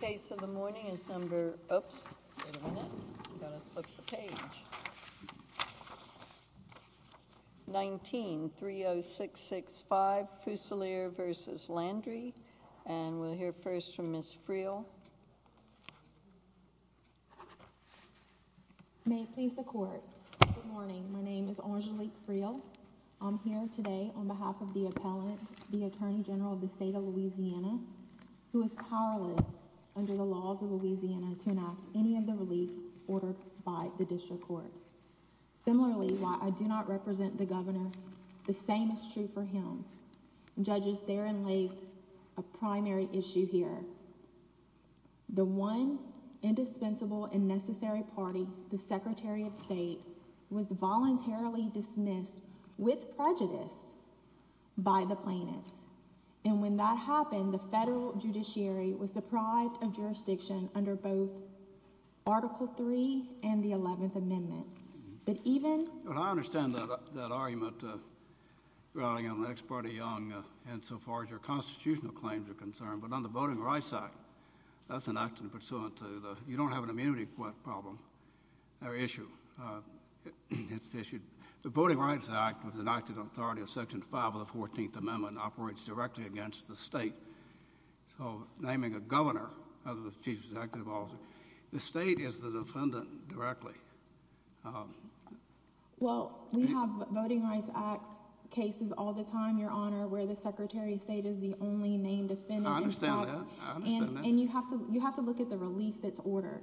Case of the morning is number 19-30665 Fusilier v. Landry and we'll hear first from Ms. Friel May it please the court. Good morning, my name is Angelique Friel I'm here today on behalf of the appellant, the Attorney General of the State of Louisiana who is powerless under the laws of Louisiana to enact any of the relief ordered by the district court. Similarly, while I do not represent the governor the same is true for him. Judges, therein lays a primary issue here. The one indispensable and necessary party, the Secretary of State, was voluntarily dismissed with prejudice by the plaintiffs. And when that happened the federal judiciary was deprived of jurisdiction under both Article 3 and the 11th Amendment. But even... I understand that argument regarding an ex parte young and so far as your constitutional claims are concerned but on the Voting Rights Act, that's an act pursuant to the, you don't have an immunity to make what problem or issue. The Voting Rights Act was enacted in authority of Section 5 of the 14th Amendment and operates directly against the state so naming a governor as the chief executive officer, the state is the defendant directly. Well, we have Voting Rights Act cases all the time, your honor, where the Secretary of State is the only person in the state that has the authority to make a decision on a case.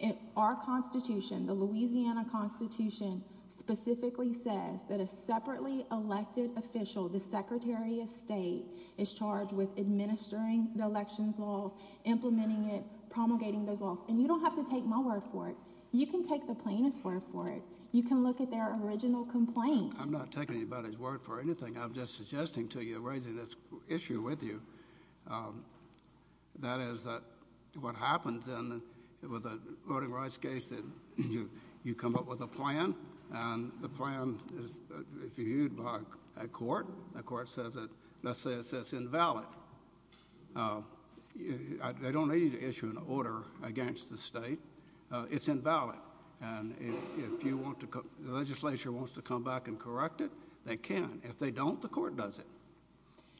And our Constitution, the Louisiana Constitution specifically says that a separately elected official, the Secretary of State is charged with administering the elections laws, implementing it, promulgating those laws. And you don't have to take my word for it. You can take the plaintiff's word for it. You can look at their original complaint. I'm not taking anybody's word for anything. I'm just suggesting to you, raising this issue with you, that is that what happens with a Voting Rights case that you come up with a plan and the plan is reviewed by a court. The court says that, let's say it says it's invalid. I don't need you to issue an order against the state. It's invalid. And if the legislature wants to come back and correct it, they can. If they don't, the court does it.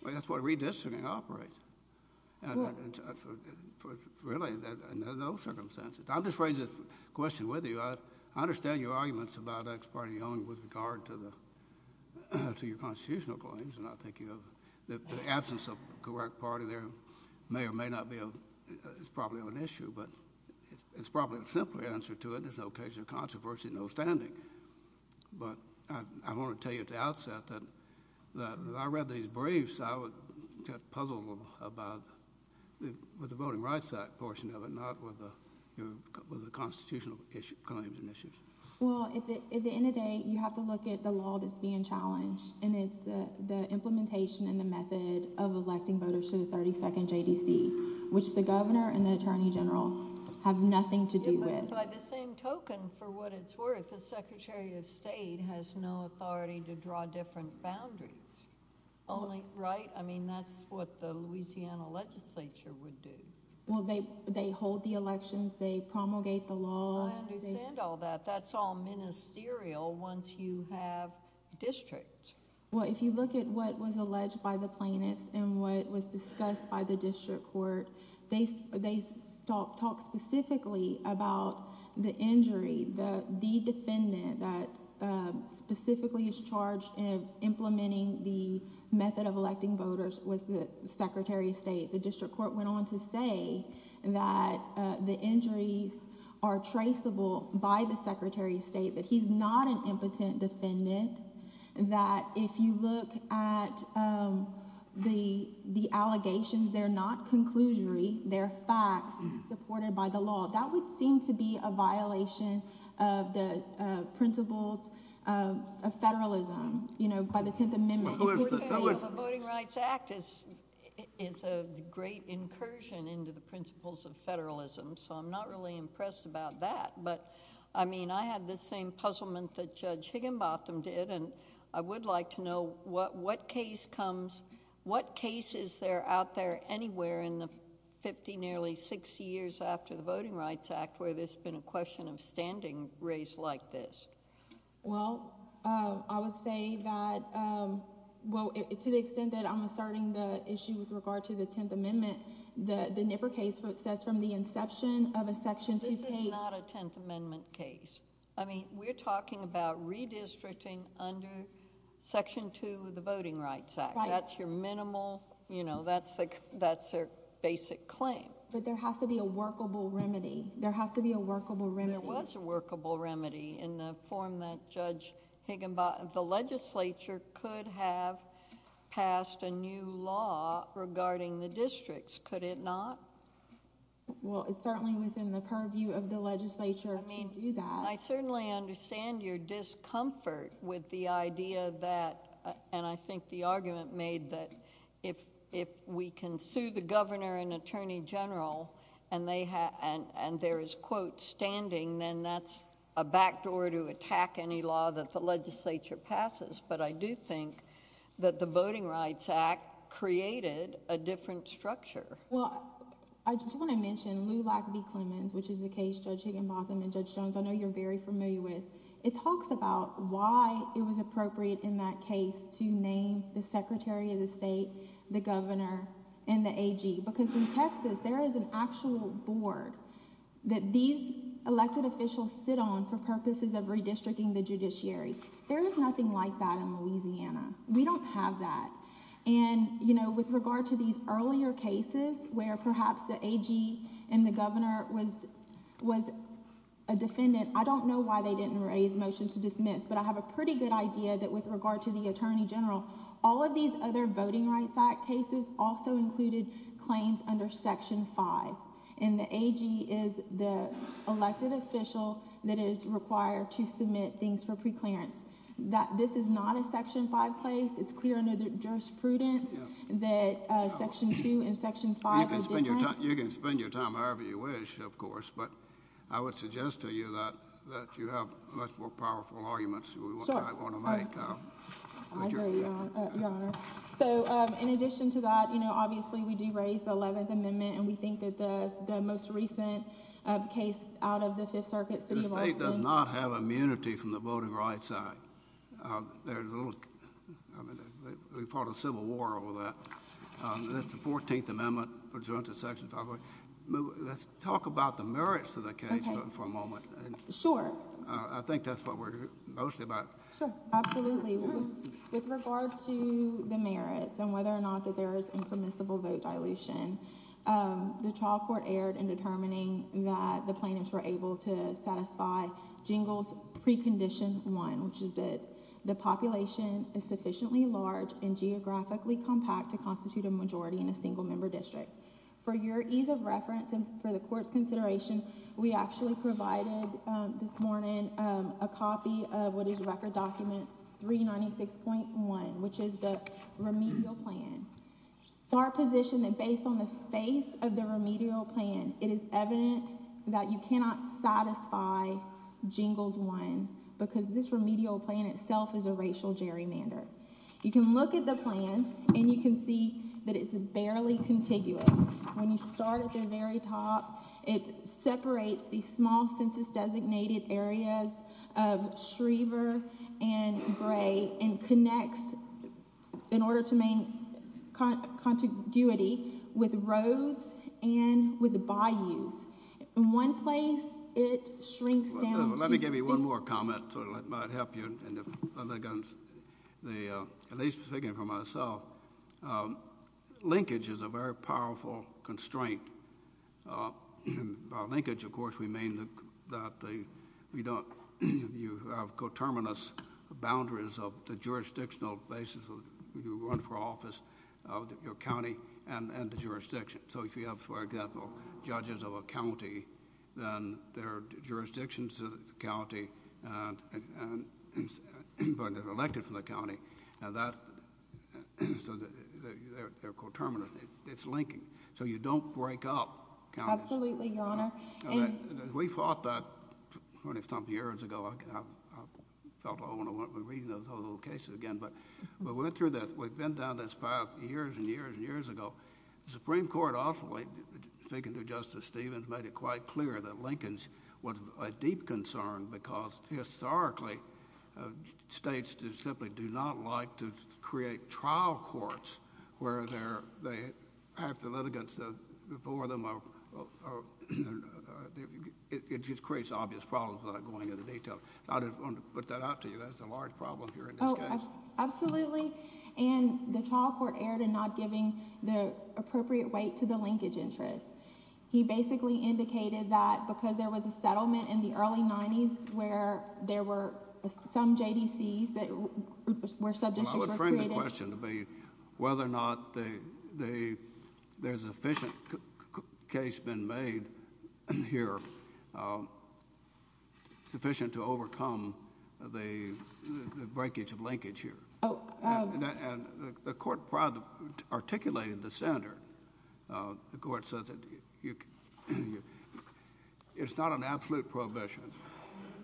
That's what redistricting operates. Really, in those circumstances. I'm just raising this question with you. I understand your arguments about Ex parte Young with regard to your constitutional claims. And I think the absence of a correct party there may or may not be probably an issue. But it's probably a simpler answer to it. There's no occasion of controversy, no standing. But I want to tell you at the outset that if I read these briefs, I would get puzzled about the Voting Rights Act portion of it, not with the constitutional claims and issues. Well, at the end of the day, you have to look at the law that's being challenged. And it's the implementation and the method of electing voters to the 32nd JDC, which the Governor and the Attorney General have nothing to do with. By the same token, for what it's worth, the Secretary of State has no authority to draw different boundaries. Right? I mean, that's what the Louisiana legislature would do. Well, they hold the elections. They promulgate the laws. I understand all that. That's all ministerial once you have districts. Well, if you look at what was alleged by the plaintiffs and what was discussed by the district court, they talk specifically about the injury. The defendant that specifically is charged in implementing the method of electing voters was the Secretary of State. The district court went on to say that the injuries are traceable by the Secretary of State, that he's not an impotent defendant, that if you look at the allegations, they're not conclusory. They're facts supported by the law. That would seem to be a violation of the principles of federalism by the Tenth Amendment. The Voting Rights Act is a great incursion into the principles of federalism, so I'm not really impressed about that. I mean, I had the same puzzlement that Judge Higginbotham did, and I would like to know what case is there out there anywhere in the 50, nearly 60 years after the Voting Rights Act where there's been a question of standing raised like this? To the extent that I'm asserting the issue with regard to the Tenth Amendment, the Nipper case says from the inception of a Section 2 case... This is not a Tenth Amendment case. I mean, we're talking about redistricting under Section 2 of the Voting Rights Act. That's your minimal... that's their basic claim. But there has to be a workable remedy. There has to be a workable remedy. There was a workable remedy in the form that Judge Higginbotham... the legislature could have passed a new law regarding the districts. Could it not? Well, it's certainly within the purview of the legislature to do that. I certainly understand your discomfort with the idea that... and I think the argument made that if we can sue the Governor and Attorney General and there is, quote, standing, then that's a backdoor to attack any law that the legislature passes. But I do think that the Voting Rights Act created a different structure. Well, I just want to mention Lou Lack v. Clemons, which is a case Judge Higginbotham and Judge Jones, I know you're very familiar with. It talks about why it was appropriate in that case to name the Secretary of the State, the Governor, and the AG. Because in Texas, there is an actual board that these elected officials sit on for purposes of redistricting the judiciary. There is nothing like that in Louisiana. We don't have that. And, you know, with regard to these earlier cases where perhaps the AG and the Governor was a defendant, I don't know why they didn't raise motion to dismiss, but I have a pretty good idea that with regard to the Attorney General, all of these other Voting Rights Act cases also included claims under Section 5. And the AG is the elected official that is required to submit things for preclearance. This is not a Section 5 case. It's clear under the jurisprudence that Section 2 and Section 5 are different. You can spend your time however you wish, of course, but I would suggest to you that you have much more powerful arguments than we might want to make. I agree, Your Honor. So, in addition to that, you know, obviously we do raise the 11th case out of the Fifth Circuit, City of Austin. The state does not have immunity from the Voting Rights Act. There's a little, I mean, we fought a civil war over that. That's the 14th Amendment, which runs in Section 5. Let's talk about the merits of the case for a moment. Sure. I think that's what we're mostly about. Sure. Absolutely. With regard to the merits and whether or not there is impermissible vote dilution, the trial court erred in determining that the plaintiffs were able to satisfy Jingles Precondition 1, which is that the population is sufficiently large and geographically compact to constitute a majority in a single-member district. For your ease of reference and for the Court's consideration, we actually provided this morning a copy of what is our position that based on the face of the remedial plan, it is evident that you cannot satisfy Jingles 1 because this remedial plan itself is a racial gerrymander. You can look at the plan and you can see that it's barely contiguous. When you start at the very top, it separates these small census-designated areas of Schriever and Gray and connects, in order to maintain contiguity, with roads and with the bayous. In one place, it shrinks down. Let me give you one more comment so it might help you. At least speaking for myself, linkage is a very powerful constraint. By linkage, of course, we mean that you have coterminous boundaries of the jurisdictional basis you run for office, your county, and the jurisdiction. If you have, for example, judges of a county, then there are jurisdictions of the county that are elected from the county. They're coterminous. It's linking. You don't break up counties. Absolutely, Your Honor. We fought that years ago. We've been down this path years and years and years ago. The Supreme Court, speaking to Justice Stevens, made it quite clear that they would like to create trial courts where they have the litigants before them. It just creates obvious problems without going into detail. I don't want to put that out to you. That's a large problem here in this case. Absolutely. The trial court erred in not giving the appropriate weight to the linkage interest. He basically indicated that because there was a settlement in the county, there was a settlement in the county. I would frame the question to be whether or not there's a sufficient case been made here sufficient to overcome the breakage of linkage here. The court articulated the standard. The court says it's not an absolute prohibition,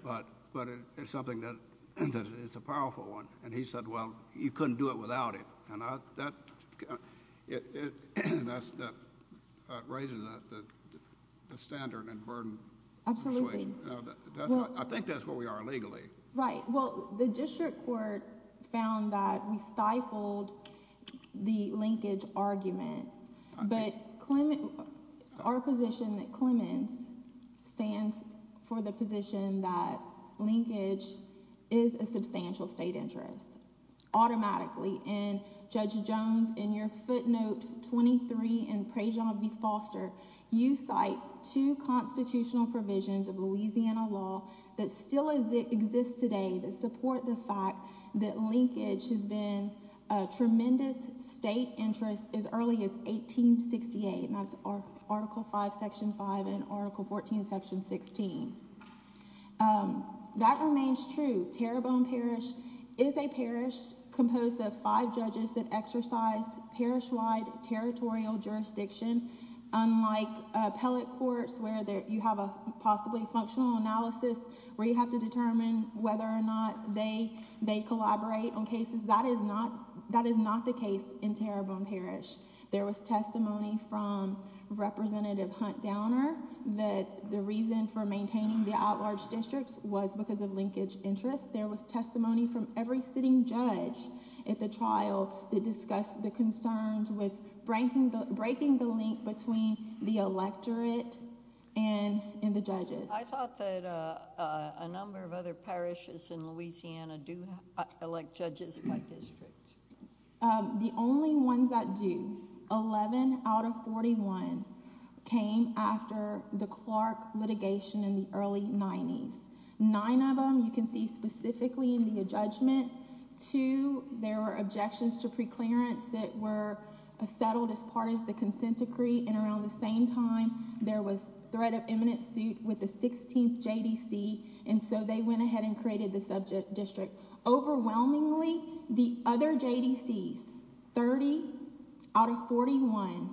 but it's a powerful one. He said, well, you couldn't do it without it. That raises a standard and burden. I think that's where we are legally. The district court found that we stifled the linkage argument. Our position at Clements stands for the position that linkage is a substantial state interest automatically. Judge Jones, in your footnote 23 in Prejean v. Foster, you cite two constitutional provisions of Louisiana law that still exist today that support the fact that linkage has been a tremendous state interest as early as 1868. That's Article 5, Section 5 and Article 14, Section 16. That remains true. Terrebonne Parish is a parish composed of five judges that exercise parish-wide territorial jurisdiction, unlike appellate courts where you have a possibly functional analysis where you have to determine whether or not they collaborate on cases. That is not the case in Terrebonne Parish. There was testimony from Representative Hunt Downer that the reason for maintaining the outlarged districts was because of linkage interest. There was testimony from every sitting judge at the trial that discussed the concerns with breaking the link between the electorate and the judges. I thought that a number of other parishes in Louisiana do elect judges by district. The only ones that do, 11 out of 41, came after the Clark litigation in the early 90s. Nine of them you can see specifically in the adjudgment. Two, there were objections to preclearance that were settled as part of the consent decree, and around the same time there was threat of eminent suit with the 16th JDC, and so they went ahead and created the subject district. Overwhelmingly, the other JDCs, 30 out of 41,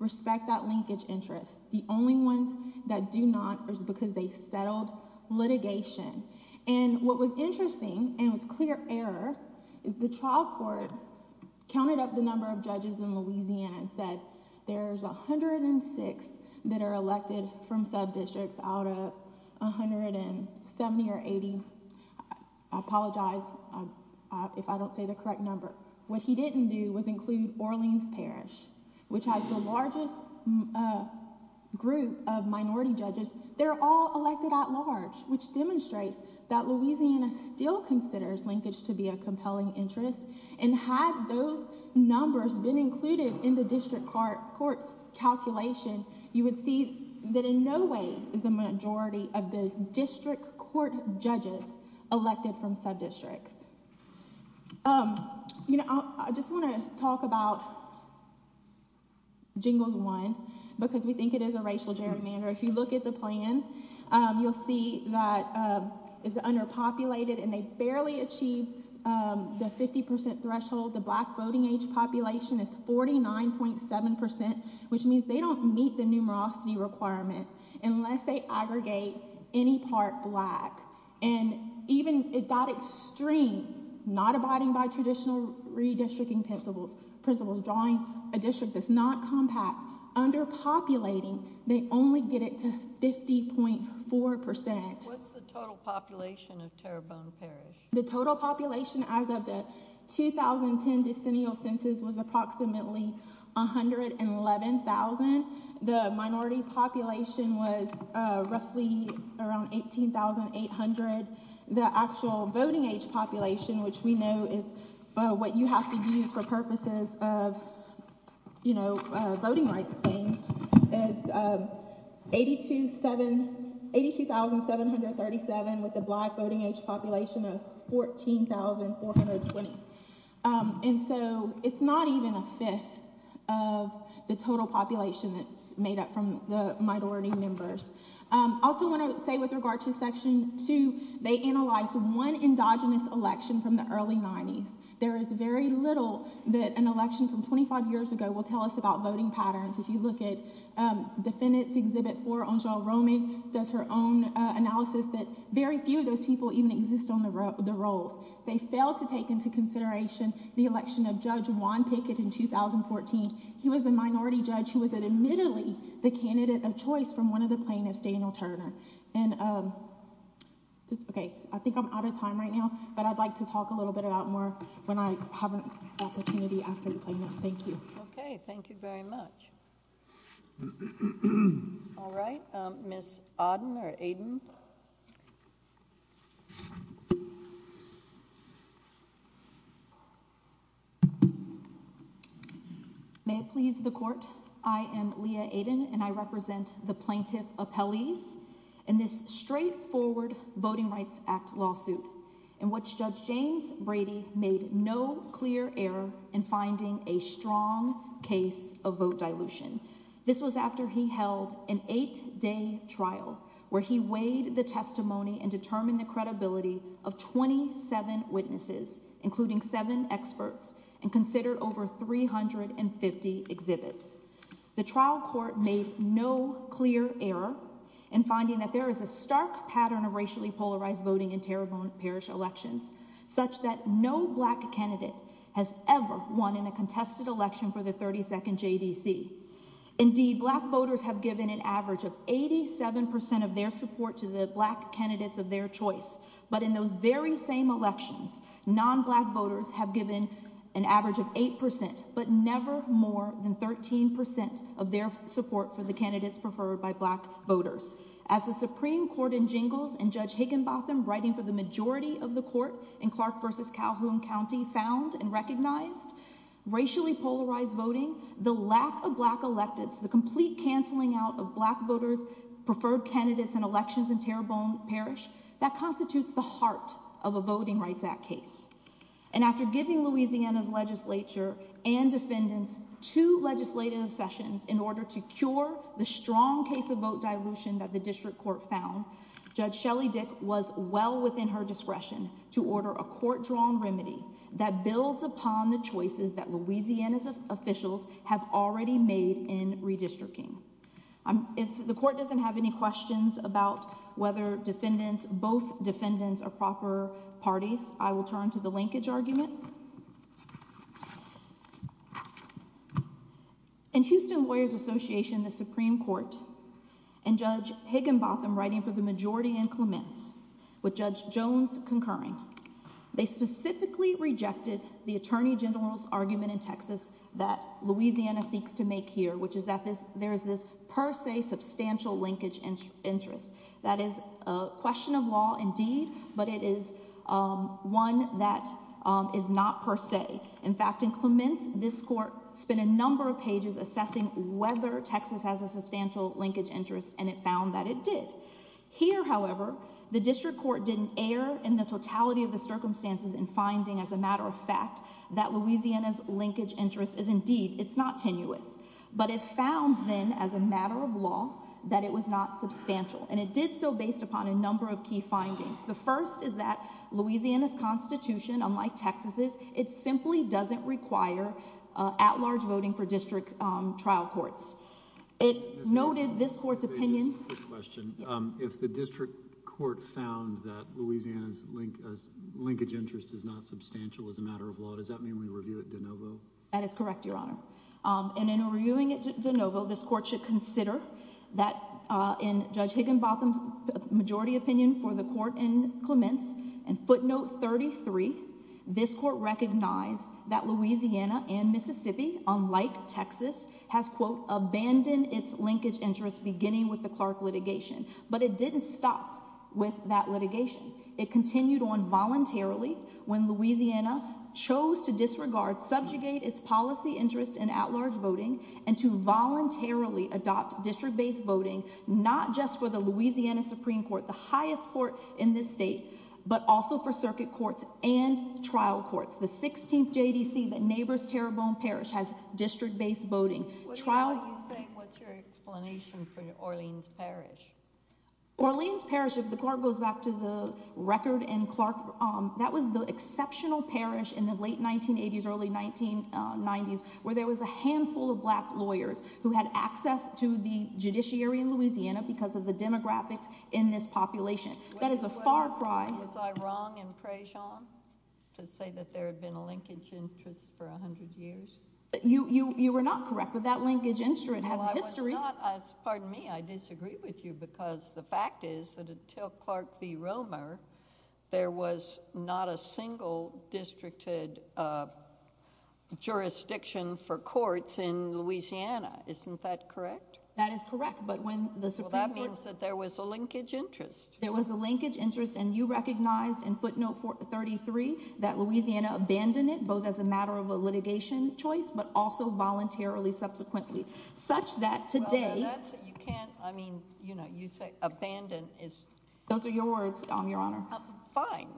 respect that linkage interest. The only ones that do not is because they settled litigation. And what was interesting, and it was clear error, is the trial court counted up the number of judges in Louisiana and said there's 106 that are elected from sub-districts out of 170 or 80. I apologize if I don't say the correct number. What he didn't do was include Orleans Parish, which has the largest group of minority judges. They're all elected at large, which demonstrates that Louisiana still considers linkage to be a compelling interest, and had those numbers been included in the district court's calculation, you would see that in no way is the majority of the district court judges elected from sub-districts. I just want to talk about Jingles 1, because we think it is a racial gerrymander. If you look at the plan, you'll see that it's underpopulated, and they barely achieve the 50% threshold. The black voting age population is 49.7%, which means they don't meet the numerosity requirement unless they aggregate any part black. It got extreme, not abiding by traditional redistricting principles, drawing a district that's not compact. Underpopulating, they only get it to 50.4%. What's the total population of Tarabona Parish? The total population as of the 2010 decennial census was approximately 111,000. The minority population was roughly around 18,800. The actual voting age population, which we know is what you have to use for purposes of voting rights claims, is 82,737, with the black voting age population of 14,420. So it's not even a fifth of the total population that's made up from the minority members. I also want to say with regard to Section 2, they analyzed one endogenous election from the early 90s. There is very little that an election from 25 years ago will tell us about voting patterns. If you look at Defendants Exhibit 4, Angele Romig does her own analysis that very few of those people even exist on the rolls. They failed to take into consideration the election of Judge Juan Pickett in 2014. He was a minority judge who was admittedly the candidate of choice from one of the plaintiffs, Daniel Turner. I think I'm out of time right now, but I'd like to talk a little bit about more when I have an opportunity after the plaintiffs. Thank you. Okay. Thank you very much. All right. Ms. Aden. May it please the Court. I am Leah Aden, and I represent the plaintiff appellees in this straightforward Voting Rights Act lawsuit in which Judge James Brady made no clear error in finding a strong case of vote dilution. This was after he held an eight-day trial where he weighed the testimony and determined the credibility of 27 witnesses, including seven experts, and considered over 350 exhibits. The trial court made no clear error in finding that there is a stark pattern of racially polarized voting in Tarrant Parish elections, such that no Black candidate has ever won in a contested election for the 32nd JDC. Indeed, Black voters have given an average of 87% of their support to the Black candidates of their choice, but in those very same elections, non-Black voters have given an average of As the Supreme Court in Jingles and Judge Higginbotham writing for the majority of the court in Clark v. Calhoun County found and recognized, racially polarized voting, the lack of Black electives, the complete canceling out of Black voters' preferred candidates in elections in Tarrant Parish, that constitutes the heart of a Voting Rights Act case. And after giving Louisiana's legislature and defendants two legislative sessions in order to cure the strong case of vote dilution that the district court found, Judge Shelley Dick was well within her discretion to order a court-drawn remedy that builds upon the choices that Louisiana's officials have already made in redistricting. If the court doesn't have any questions about whether both defendants are proper parties, I will turn to the linkage argument. In Houston Lawyers Association, the Supreme Court and Judge Higginbotham writing for the majority in Clements with Judge Jones concurring, they specifically rejected the Attorney General's argument in Texas that Louisiana seeks to make here, which is that there is this per se substantial linkage interest. That is a question of law indeed, but it is one that is not per se. In fact, in Clements, this court spent a number of pages assessing whether Texas has a substantial linkage interest, and it found that it did. Here, however, the district court didn't err in the totality of the circumstances in finding, as a matter of fact, that Louisiana's linkage interest is indeed not tenuous. But it found then, as a matter of law, that it was not substantial. And it did so based upon a number of key findings. The first is that Louisiana's Constitution, unlike Texas's, it simply doesn't require at-large voting for district trial courts. It noted this court's opinion... If the district court found that Louisiana's linkage interest is not substantial as a matter of law, does that mean we review it de novo? That is correct, Your Honor. And in reviewing it de novo, this court should consider that in Judge Higginbotham's majority opinion for the court in Clements, and footnote 33, this court recognized that Louisiana and Mississippi, unlike Texas, has, quote, abandoned its linkage interest beginning with the Clark litigation. But it didn't stop with that litigation. It continued on voluntarily when Louisiana chose to disregard, subjugate its policy interest in at-large voting and to voluntarily adopt district-based voting, not just for the Louisiana Supreme Court, the highest court in this state, but also for circuit courts and trial courts. The 16th JDC that neighbors Terrebonne Parish has district-based voting. What's your explanation for Orleans Parish? Orleans Parish, if the court goes back to the record in Clark, that was the exceptional parish in the late 1980s, early 1990s, where there was a handful of black lawyers who had access to the judiciary in Louisiana because of the demographics in this population. That is a far cry... Was I wrong in Prejean to say that there had been a linkage interest for 100 years? You were not correct, but that linkage interest has a history. Pardon me, I disagree with you because the fact is that until Clark v. Romer, there was not a single districted jurisdiction for courts in Louisiana. Isn't that correct? That is correct. Well, that means that there was a linkage interest. There was a linkage interest, and you recognized in footnote 33 that Louisiana abandoned it, both as a matter of a litigation choice, but also voluntarily subsequently, such that today... You say abandoned. Those are your words, Your Honor. Fine,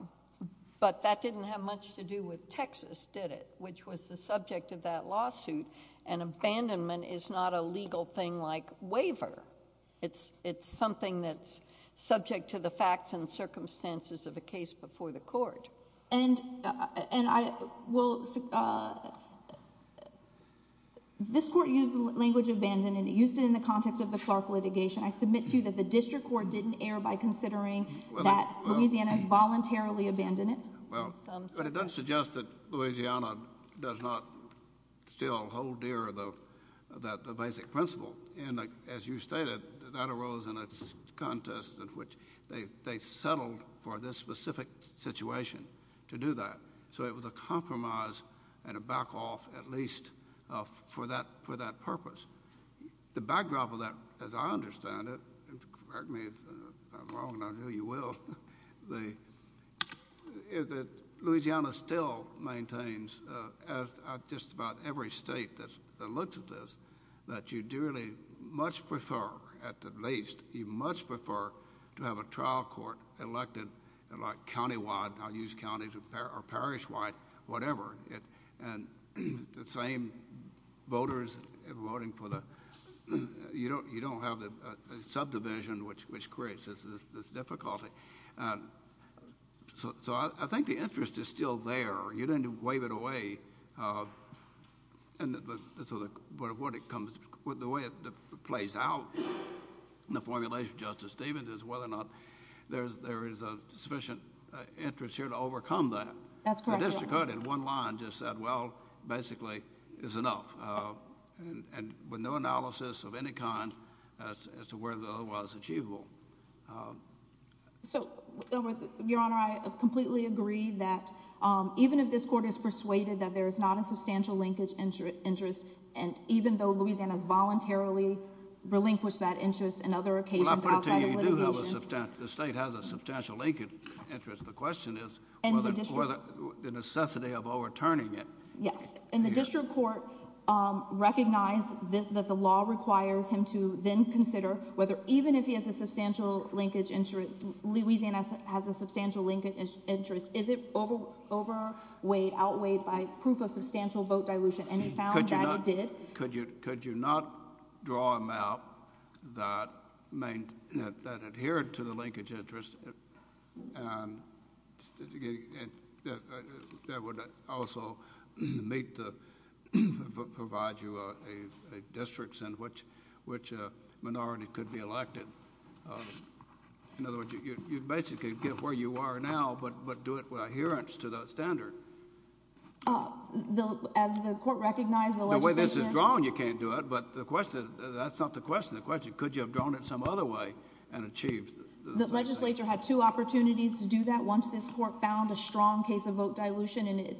but that didn't have much to do with Texas, did it? Which was the subject of that lawsuit, and abandonment is not a legal thing like waiver. It's something that's subject to the facts and circumstances of a case before the court. This court used the language abandoned, and it used it in the context of the Clark litigation. I submit to you that the district court didn't err by considering that as a legal thing. But it does suggest that Louisiana does not still hold dear that basic principle, and as you stated, that arose in a contest in which they settled for this specific situation to do that. So it was a compromise and a back off, at least, for that purpose. The backdrop of that, as I understand it, correct me if I'm wrong, and I know you will, is that Louisiana still maintains, as just about every state that looks at this, that you dearly much prefer, at the least, you much prefer to have a trial court elected countywide, and I'll use counties, or parishwide, whatever, and the same voters voting for the... you don't have the subdivision which creates this difficulty. So I think the interest is still there. You didn't waive it away. The way it plays out in the formulation of Justice Stevens is whether or not there is a sufficient interest here to overcome that. The district court in one line just said, well, basically, it's enough, with no analysis of any kind as to whether it's otherwise achievable. So, Your Honor, I completely agree that even if this court is persuaded that there is not a substantial linkage interest, and even though Louisiana has a substantial linkage interest, the question is whether the necessity of overturning it. Yes, and the district court recognized that the law requires him to then consider whether, even if he has a substantial linkage interest, Louisiana has a substantial linkage interest, is it overweighed, outweighed by proof of substantial vote dilution, and he found that it did. Could you not draw a map that adhered to the linkage interest and that would also provide you a district in which a minority could be elected? In other words, you'd basically get where you are now, but do it with adherence to that standard. As the court recognized, the way this is drawn, you can't do it, but that's not the question. The question is, could you have drawn it some other way and achieved that? The legislature had two opportunities to do that. Once this court found a strong case of vote dilution and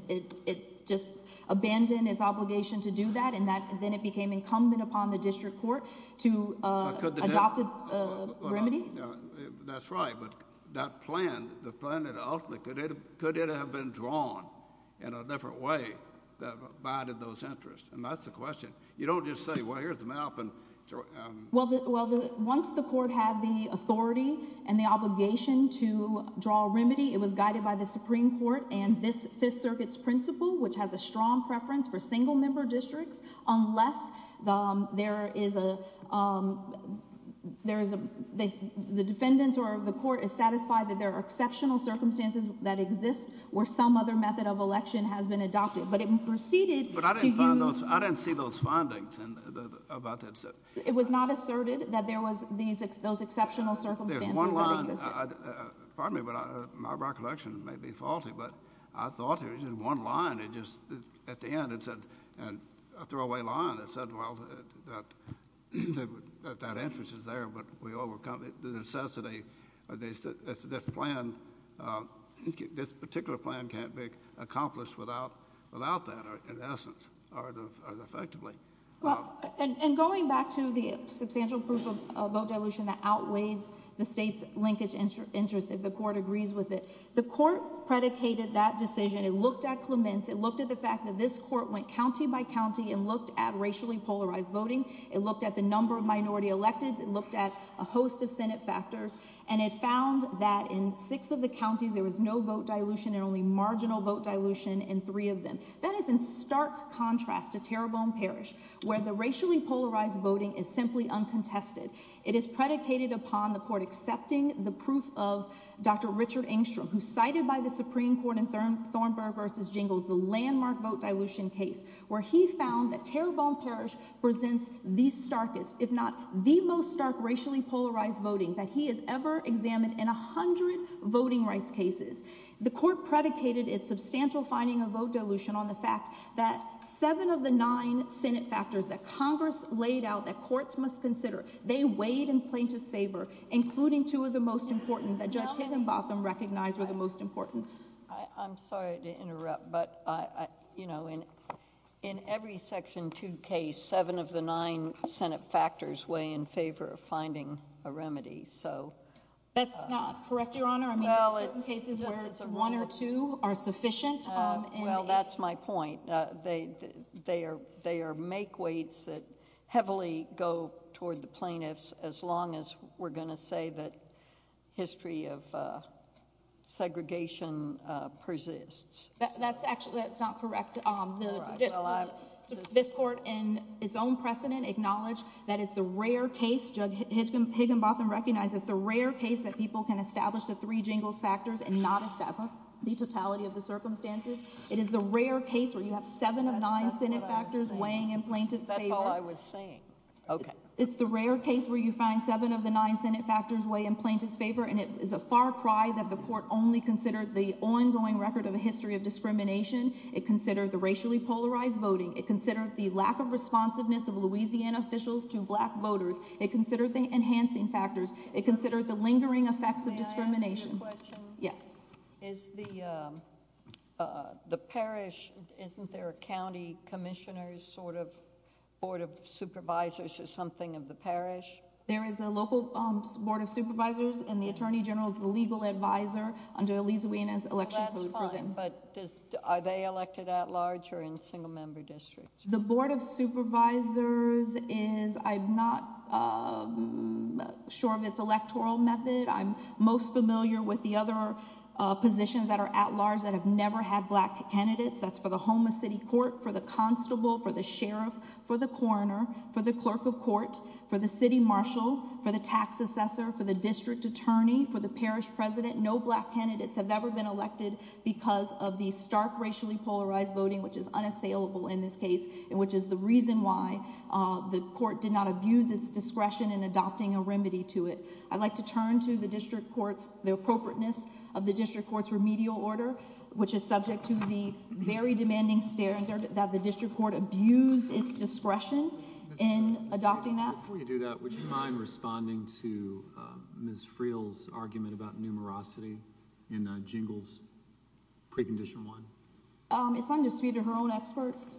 it just abandoned its obligation to do that, and then it became incumbent upon the district court to adopt a remedy. That's right, but that plan, could it have been drawn in a different way that abided those interests? And that's the question. You don't just say, well, here's the map. Well, once the court had the authority and the obligation to draw a remedy, it was guided by the Supreme Court and this Fifth Circuit's principle, which has a strong preference for single-member districts, unless the defendants or the court is satisfied that there are exceptional circumstances that exist where some other method of election has been adopted. But it proceeded to use... But I didn't see those findings about that. It was not asserted that there was those exceptional circumstances that existed. Pardon me, but my recollection may be that this particular plan can't be accomplished without that, in essence, or effectively. Well, and going back to the substantial proof of vote dilution that outweighs the state's linkage interest if the court agrees with it, the court predicated that decision. It looked at Clements. It looked at the fact that this court went county by county and looked at racially polarized voting. It looked at the number of minority elected. It looked at a host of Senate factors, and it found that in six of the counties there was no vote dilution and only marginal vote dilution in three of them. That is in stark contrast to Terrebonne Parish, where the racially polarized voting is simply uncontested. It is predicated upon the court accepting the proof of Dr. Richard Engstrom, who cited by the Supreme Court in Thornburgh v. Jingles the landmark vote dilution case, where he found that Terrebonne Parish presents the starkest, if not the most stark racially polarized voting that he has ever examined in a hundred voting rights cases. The court predicated its substantial finding of vote dilution on the fact that seven of the nine Senate factors that Congress laid out that courts must consider, they weighed in plaintiff's favor, including two of the most important that Judge Higginbotham recognized were the most important. I'm sorry to interrupt, but in every Section 2 case, seven of the nine Senate factors weigh in favor of finding a remedy. That's not correct, Your Honor. There are certain cases where one or two are sufficient. Well, that's my point. They are makeweights that heavily go toward the plaintiffs, as long as we're going to say that history of segregation persists. That's actually, that's not correct. This court, in its own precedent, acknowledged that it's the rare case, Judge Higginbotham recognizes, the rare case that people can establish the three Jingles factors and not establish the totality of the circumstances. It is the rare case where you have seven of nine Senate factors weighing in plaintiff's favor. That's all I was saying. Okay. It's the rare case where you find seven of the nine Senate factors weigh in plaintiff's favor, and it is a far cry that the court only considered the ongoing record of a history of discrimination. It considered the racially polarized voting. It considered the lack of responsiveness of Louisiana officials to black voters. It considered the enhancing factors. It considered the lingering effects of discrimination. May I ask you a question? Yes. Is the parish, isn't there a county commissioner's sort of Board of Supervisors or something of the parish? There is a local Board of Supervisors, and the Attorney General is the legal advisor under a Louisiana election. That's fine, but are they elected at large or in short of its electoral method? I'm most familiar with the other positions that are at large that have never had black candidates. That's for the home of city court, for the constable, for the sheriff, for the coroner, for the clerk of court, for the city marshal, for the tax assessor, for the district attorney, for the parish president. No black candidates have ever been elected because of the stark racially polarized voting, which is discrediting the district court's discretion in adopting a remedy to it. I'd like to turn to the district court's, the appropriateness of the district court's remedial order, which is subject to the very demanding standard that the district court abused its discretion in adopting that. Before you do that, would you mind responding to Ms. Freel's argument about numerosity in Jingles Precondition 1? It's undisputed. Her own experts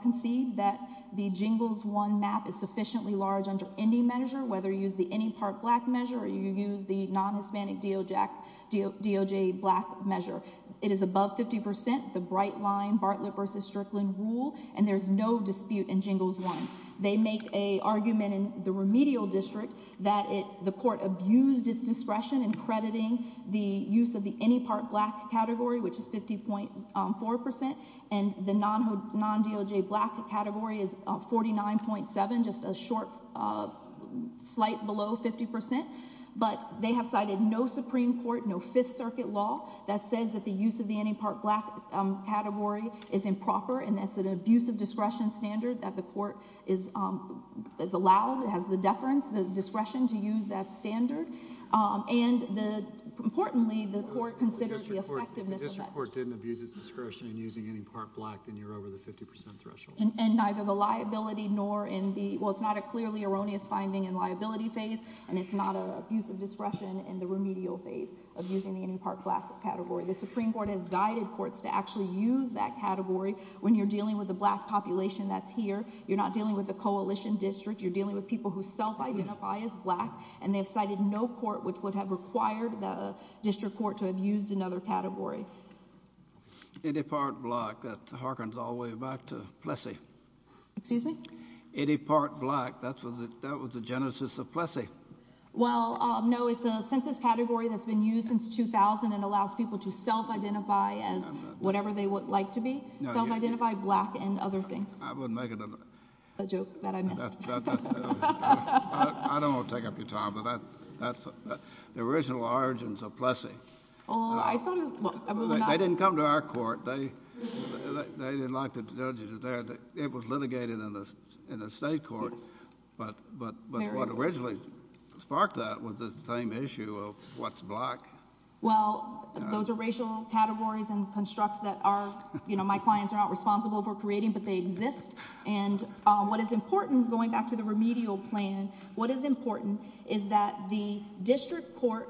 concede that the Jingles 1 map is sufficiently large under any measure, whether you use the any part black measure or you use the non-Hispanic DOJ black measure. It is above 50%, the bright line Bartlett versus Strickland rule, and there's no dispute in Jingles 1. They make a argument in the remedial district that the court abused its discretion in crediting the use of the any part black category, which is 50.4%, and the non-DOJ black category is 49.7%, just a short, slight below 50%. But they have cited no Supreme Court, no Fifth Circuit law that says that the use of the any part black category is improper, and that's an abuse of discretion standard that the court is allowed, has the deference, the discretion to use that standard, and importantly, the court considers the effectiveness of that. If the district court didn't abuse its discretion in using any part black, then you're over the 50% threshold. And neither the liability nor in the, well, it's not a clearly erroneous finding in liability phase, and it's not an abuse of discretion in the remedial phase of using the any part black category. The Supreme Court has guided courts to actually use that category when you're dealing with a black population that's here. You're not dealing with a coalition district. You're dealing with people who self-identify as black, and they have cited no court which would have required the district court to have used another category. Any part black. That harkens all the way back to Plessy. Excuse me? Any part black. That was the genesis of Plessy. Well, no, it's a census category that's been used since 2000 and allows people to self-identify as whatever they would like to be. Self-identify black and other things. I wouldn't make it another. A joke that I missed. I don't want to take up your time, but the original origins of Plessy. They didn't come to our court. They didn't like the judges there. It was litigated in the state court, but what originally sparked that was the same issue of what's black. Those are racial categories and constructs that my clients are not responsible for creating, but they exist. What is important, going back to the remedial plan, what is important is that the district court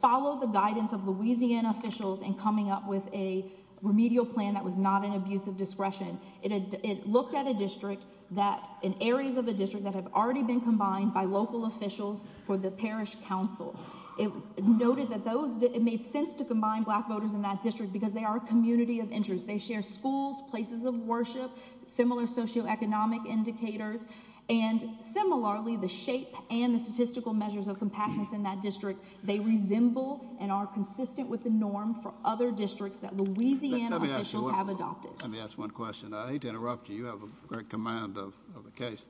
follow the guidance of Louisiana officials in coming up with a remedial plan that was not an abuse of discretion. It looked at a district that in areas of the district that have already been combined by local officials for the parish council. It noted that those made sense to combine black voters in that district because they are a community of interest. They share schools, places of worship, similar socioeconomic indicators, and similarly the shape and the statistical measures of compactness in that district. They resemble and are consistent with the norm for other districts that Louisiana officials have adopted. Let me ask one question. I hate to interrupt you. You have a great command of the case.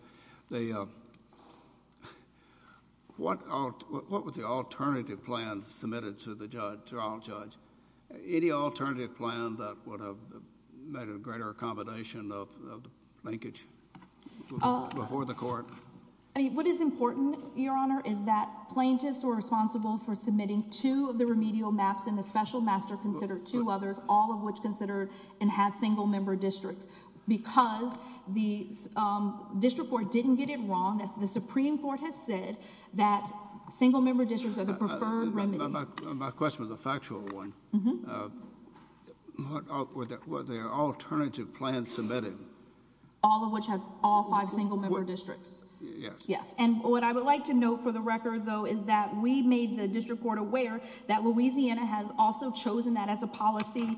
What was the alternative plan submitted to the trial judge? Any alternative plan that would have made a greater combination of linkage before the court? What is important, Your Honor, is that plaintiffs were responsible for submitting two of the remedial maps and the special master considered two others, all of which considered and had single member districts. Because the district court didn't get it wrong, the Supreme Court has said that single member districts are the preferred remedy. My question was a factual one. Were there alternative plans submitted? All of which had all five single member districts. Yes. And what I would like to note for the record, though, is that we made the district court aware that Louisiana has also chosen that as a policy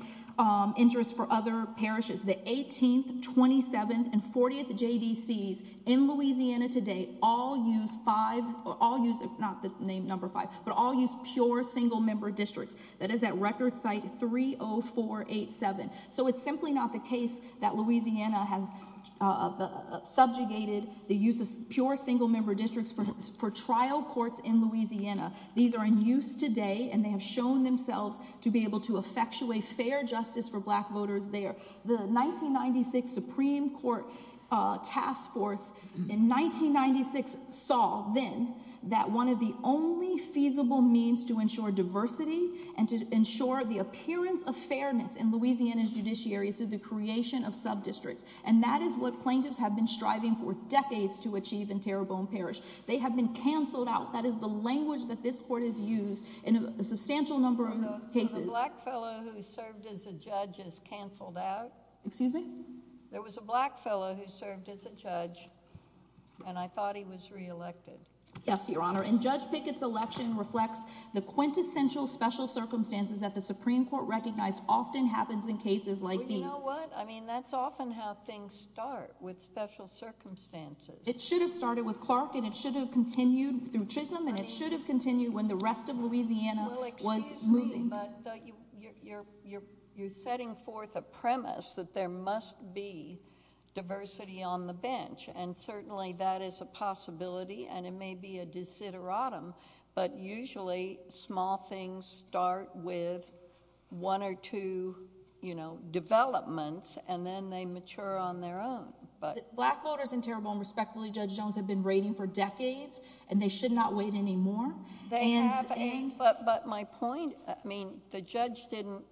interest for other parishes. The 18th, 27th, and 40th JDCs in all use five or all use not the name number five, but all use pure single member districts. That is at record site 30487. So it's simply not the case that Louisiana has subjugated the use of pure single member districts for trial courts in Louisiana. These are in use today and they have shown themselves to be able to effectuate fair justice for black voters there. The 1996 Supreme Court task force in 1996 saw then that one of the only feasible means to ensure diversity and to ensure the appearance of fairness in Louisiana's judiciary is the creation of sub districts. And that is what plaintiffs have been striving for decades to achieve in Terrebonne Parish. They have been canceled out. That is the language that this court has used in a way that I don't know that I would have ever heard of. But they have been canceled out. Excuse me? There was a black fellow who served as a judge. And I thought he was reelected. Yes, your Honor. And Judge Pickett's election reflects the quintessential special circumstances that the Supreme Court recognized often happens in cases like these. You know what? I mean, that's often how things start with special circumstances. It should have started with Clark and it should have continued through Trism and it should have continued when the rest of Louisiana was moving. You're setting forth a premise that there must be diversity on the bench. And certainly that is a possibility and it may be a desideratum. But usually small things start with one or two, you know, developments and then they mature on their own. Black voters in Terrebonne, respectfully, Judge Jones, have been waiting for decades and they should not wait anymore. But my point, I mean, the judge didn't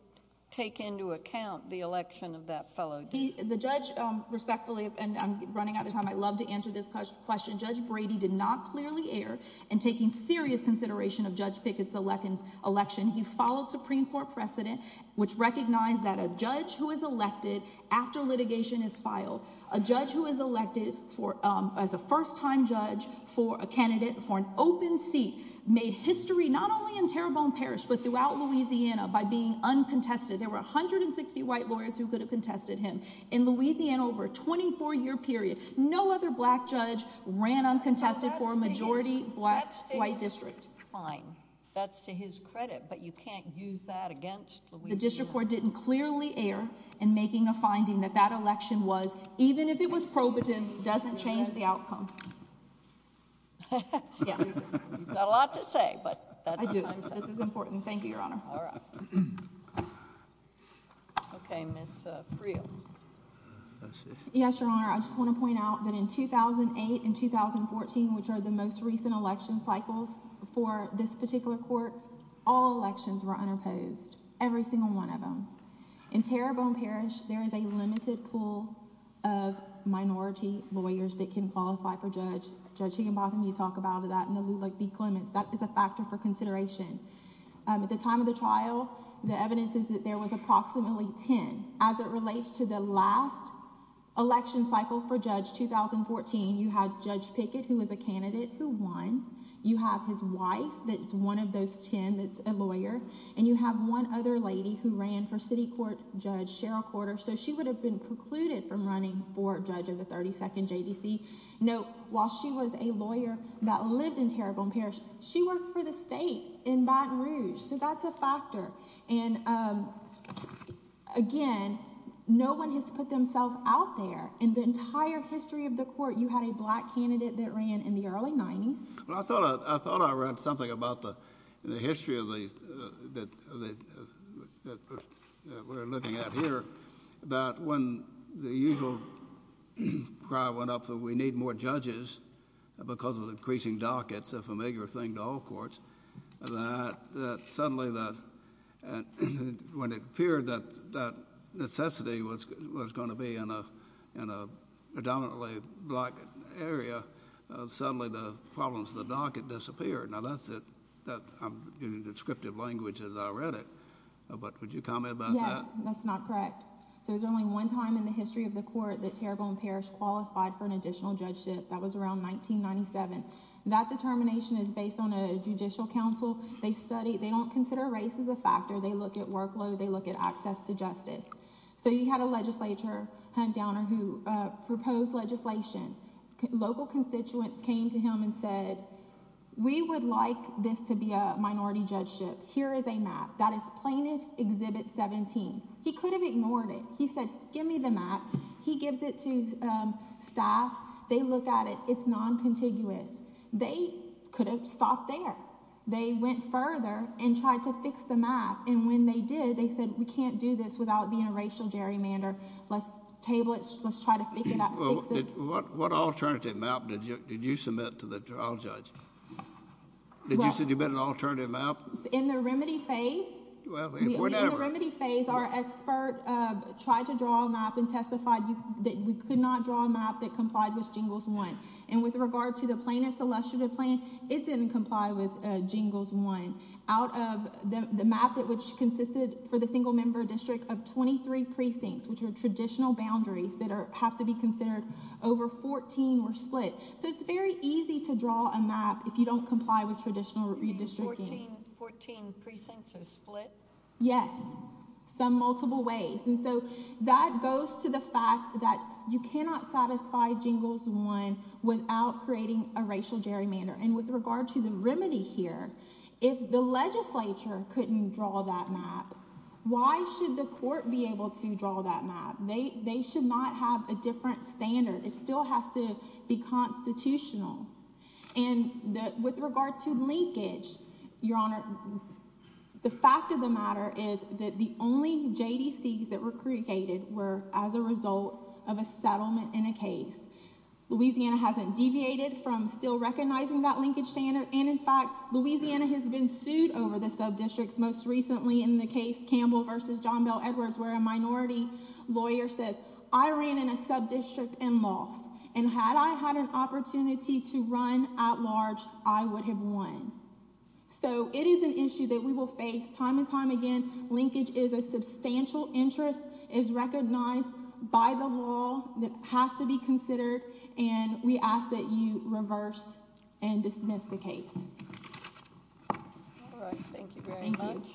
take into account the election of that fellow. The judge, respectfully, and I'm running out of time, I'd love to answer this question. Judge Brady did not clearly err in taking serious consideration of Judge Pickett's election. He followed Supreme Court precedent, which recognized that a judge who is elected after litigation is filed, a judge who is elected as a first-time judge, a candidate for an open seat, made history not only in Terrebonne Parish but throughout Louisiana by being uncontested. There were 160 white lawyers who could have contested him in Louisiana over a 24-year period. No other black judge ran uncontested for a majority white district. That's to his credit, but you can't use that against Louisiana. The district court didn't clearly err in making a finding that that election was, even if it was probative, doesn't change the outcome. Yes. You've got a lot to say, but... I do. This is important. Thank you, Your Honor. Okay, Ms. Freel. Yes, Your Honor. I just want to point out that in 2008 and 2014, which are the most recent election cycles for this particular court, all elections were unopposed, every single one of them. In Terrebonne Parish, there is a limited pool of minority lawyers that can qualify for judge. Judge Higginbotham, you saw in the trial, the evidence is that there was approximately 10. As it relates to the last election cycle for judge, 2014, you had Judge Pickett, who was a candidate, who won. You have his wife, that's one of those 10 that's a lawyer, and you have one other lady who ran for city court judge, Cheryl Porter, so she would have been precluded from running for judge of the 32nd JDC. Note, while she was a lawyer that lived in Terrebonne Parish, she worked for the state in Baton Rouge, so that's a factor. Again, no one has put themselves out there. In the entire history of the court, you had a black candidate that ran in the early 90s. I thought I read something about the history that we're looking at here, that when the usual cry went up, we need more judges, because of the increasing dockets, a familiar thing to all courts, that suddenly when it appeared that necessity was going to be in a predominantly black area, suddenly the problems of the docket disappeared. Now that's it. I'm using descriptive language as I can. In the entire history of the court, that Terrebonne Parish qualified for an additional judgeship, that was around 1997. That determination is based on a judicial council. They don't consider race as a factor. They look at workload. They look at access to justice. You had a legislature, Hunt Downer, who proposed legislation. Local constituents came to him and said, we would like this to be a minority judgeship. Here is a map. That is Plaintiff's Exhibit 17. He could have ignored it. He said, give me the map. He gives it to staff. They look at it. It's noncontiguous. They could have stopped there. They went further and tried to fix the map. When they did, they said, we can't do this without being a racial gerrymander. Let's table it. Let's try to fix it. What alternative map did you submit to the trial judge? Did you submit an alternative map? In the remedy phase, our expert tried to draw a map and testified that we could not draw a map that complied with Jingles 1. With regard to the plaintiff's illustrative plan, it didn't comply with Jingles 1. Out of the map, which consisted for the single member district of 23 precincts, which are traditional boundaries that have to be considered, over 14 were split. It's very easy to draw a map if you don't comply with traditional redistricting. 14 precincts are split? Yes. Some multiple ways. That goes to the fact that you cannot satisfy Jingles 1 without creating a racial gerrymander. With regard to the remedy here, if the legislature couldn't draw that map, why should the court be able to draw that map? They should not have a different standard. It still has to be constitutional. With regard to linkage, Your Honor, the fact of the matter is that the only JDCs that were created were as a result of breaking that linkage standard. In fact, Louisiana has been sued over the sub-districts, most recently in the case Campbell v. John Bel Edwards, where a minority lawyer says, I ran in a sub-district and lost. Had I had an opportunity to run at large, I would have won. It is an issue that we will face time and time again. Linkage is a substantial interest. It is recognized by the law. It has to be considered. We ask that you reverse and dismiss the case. Thank you very much.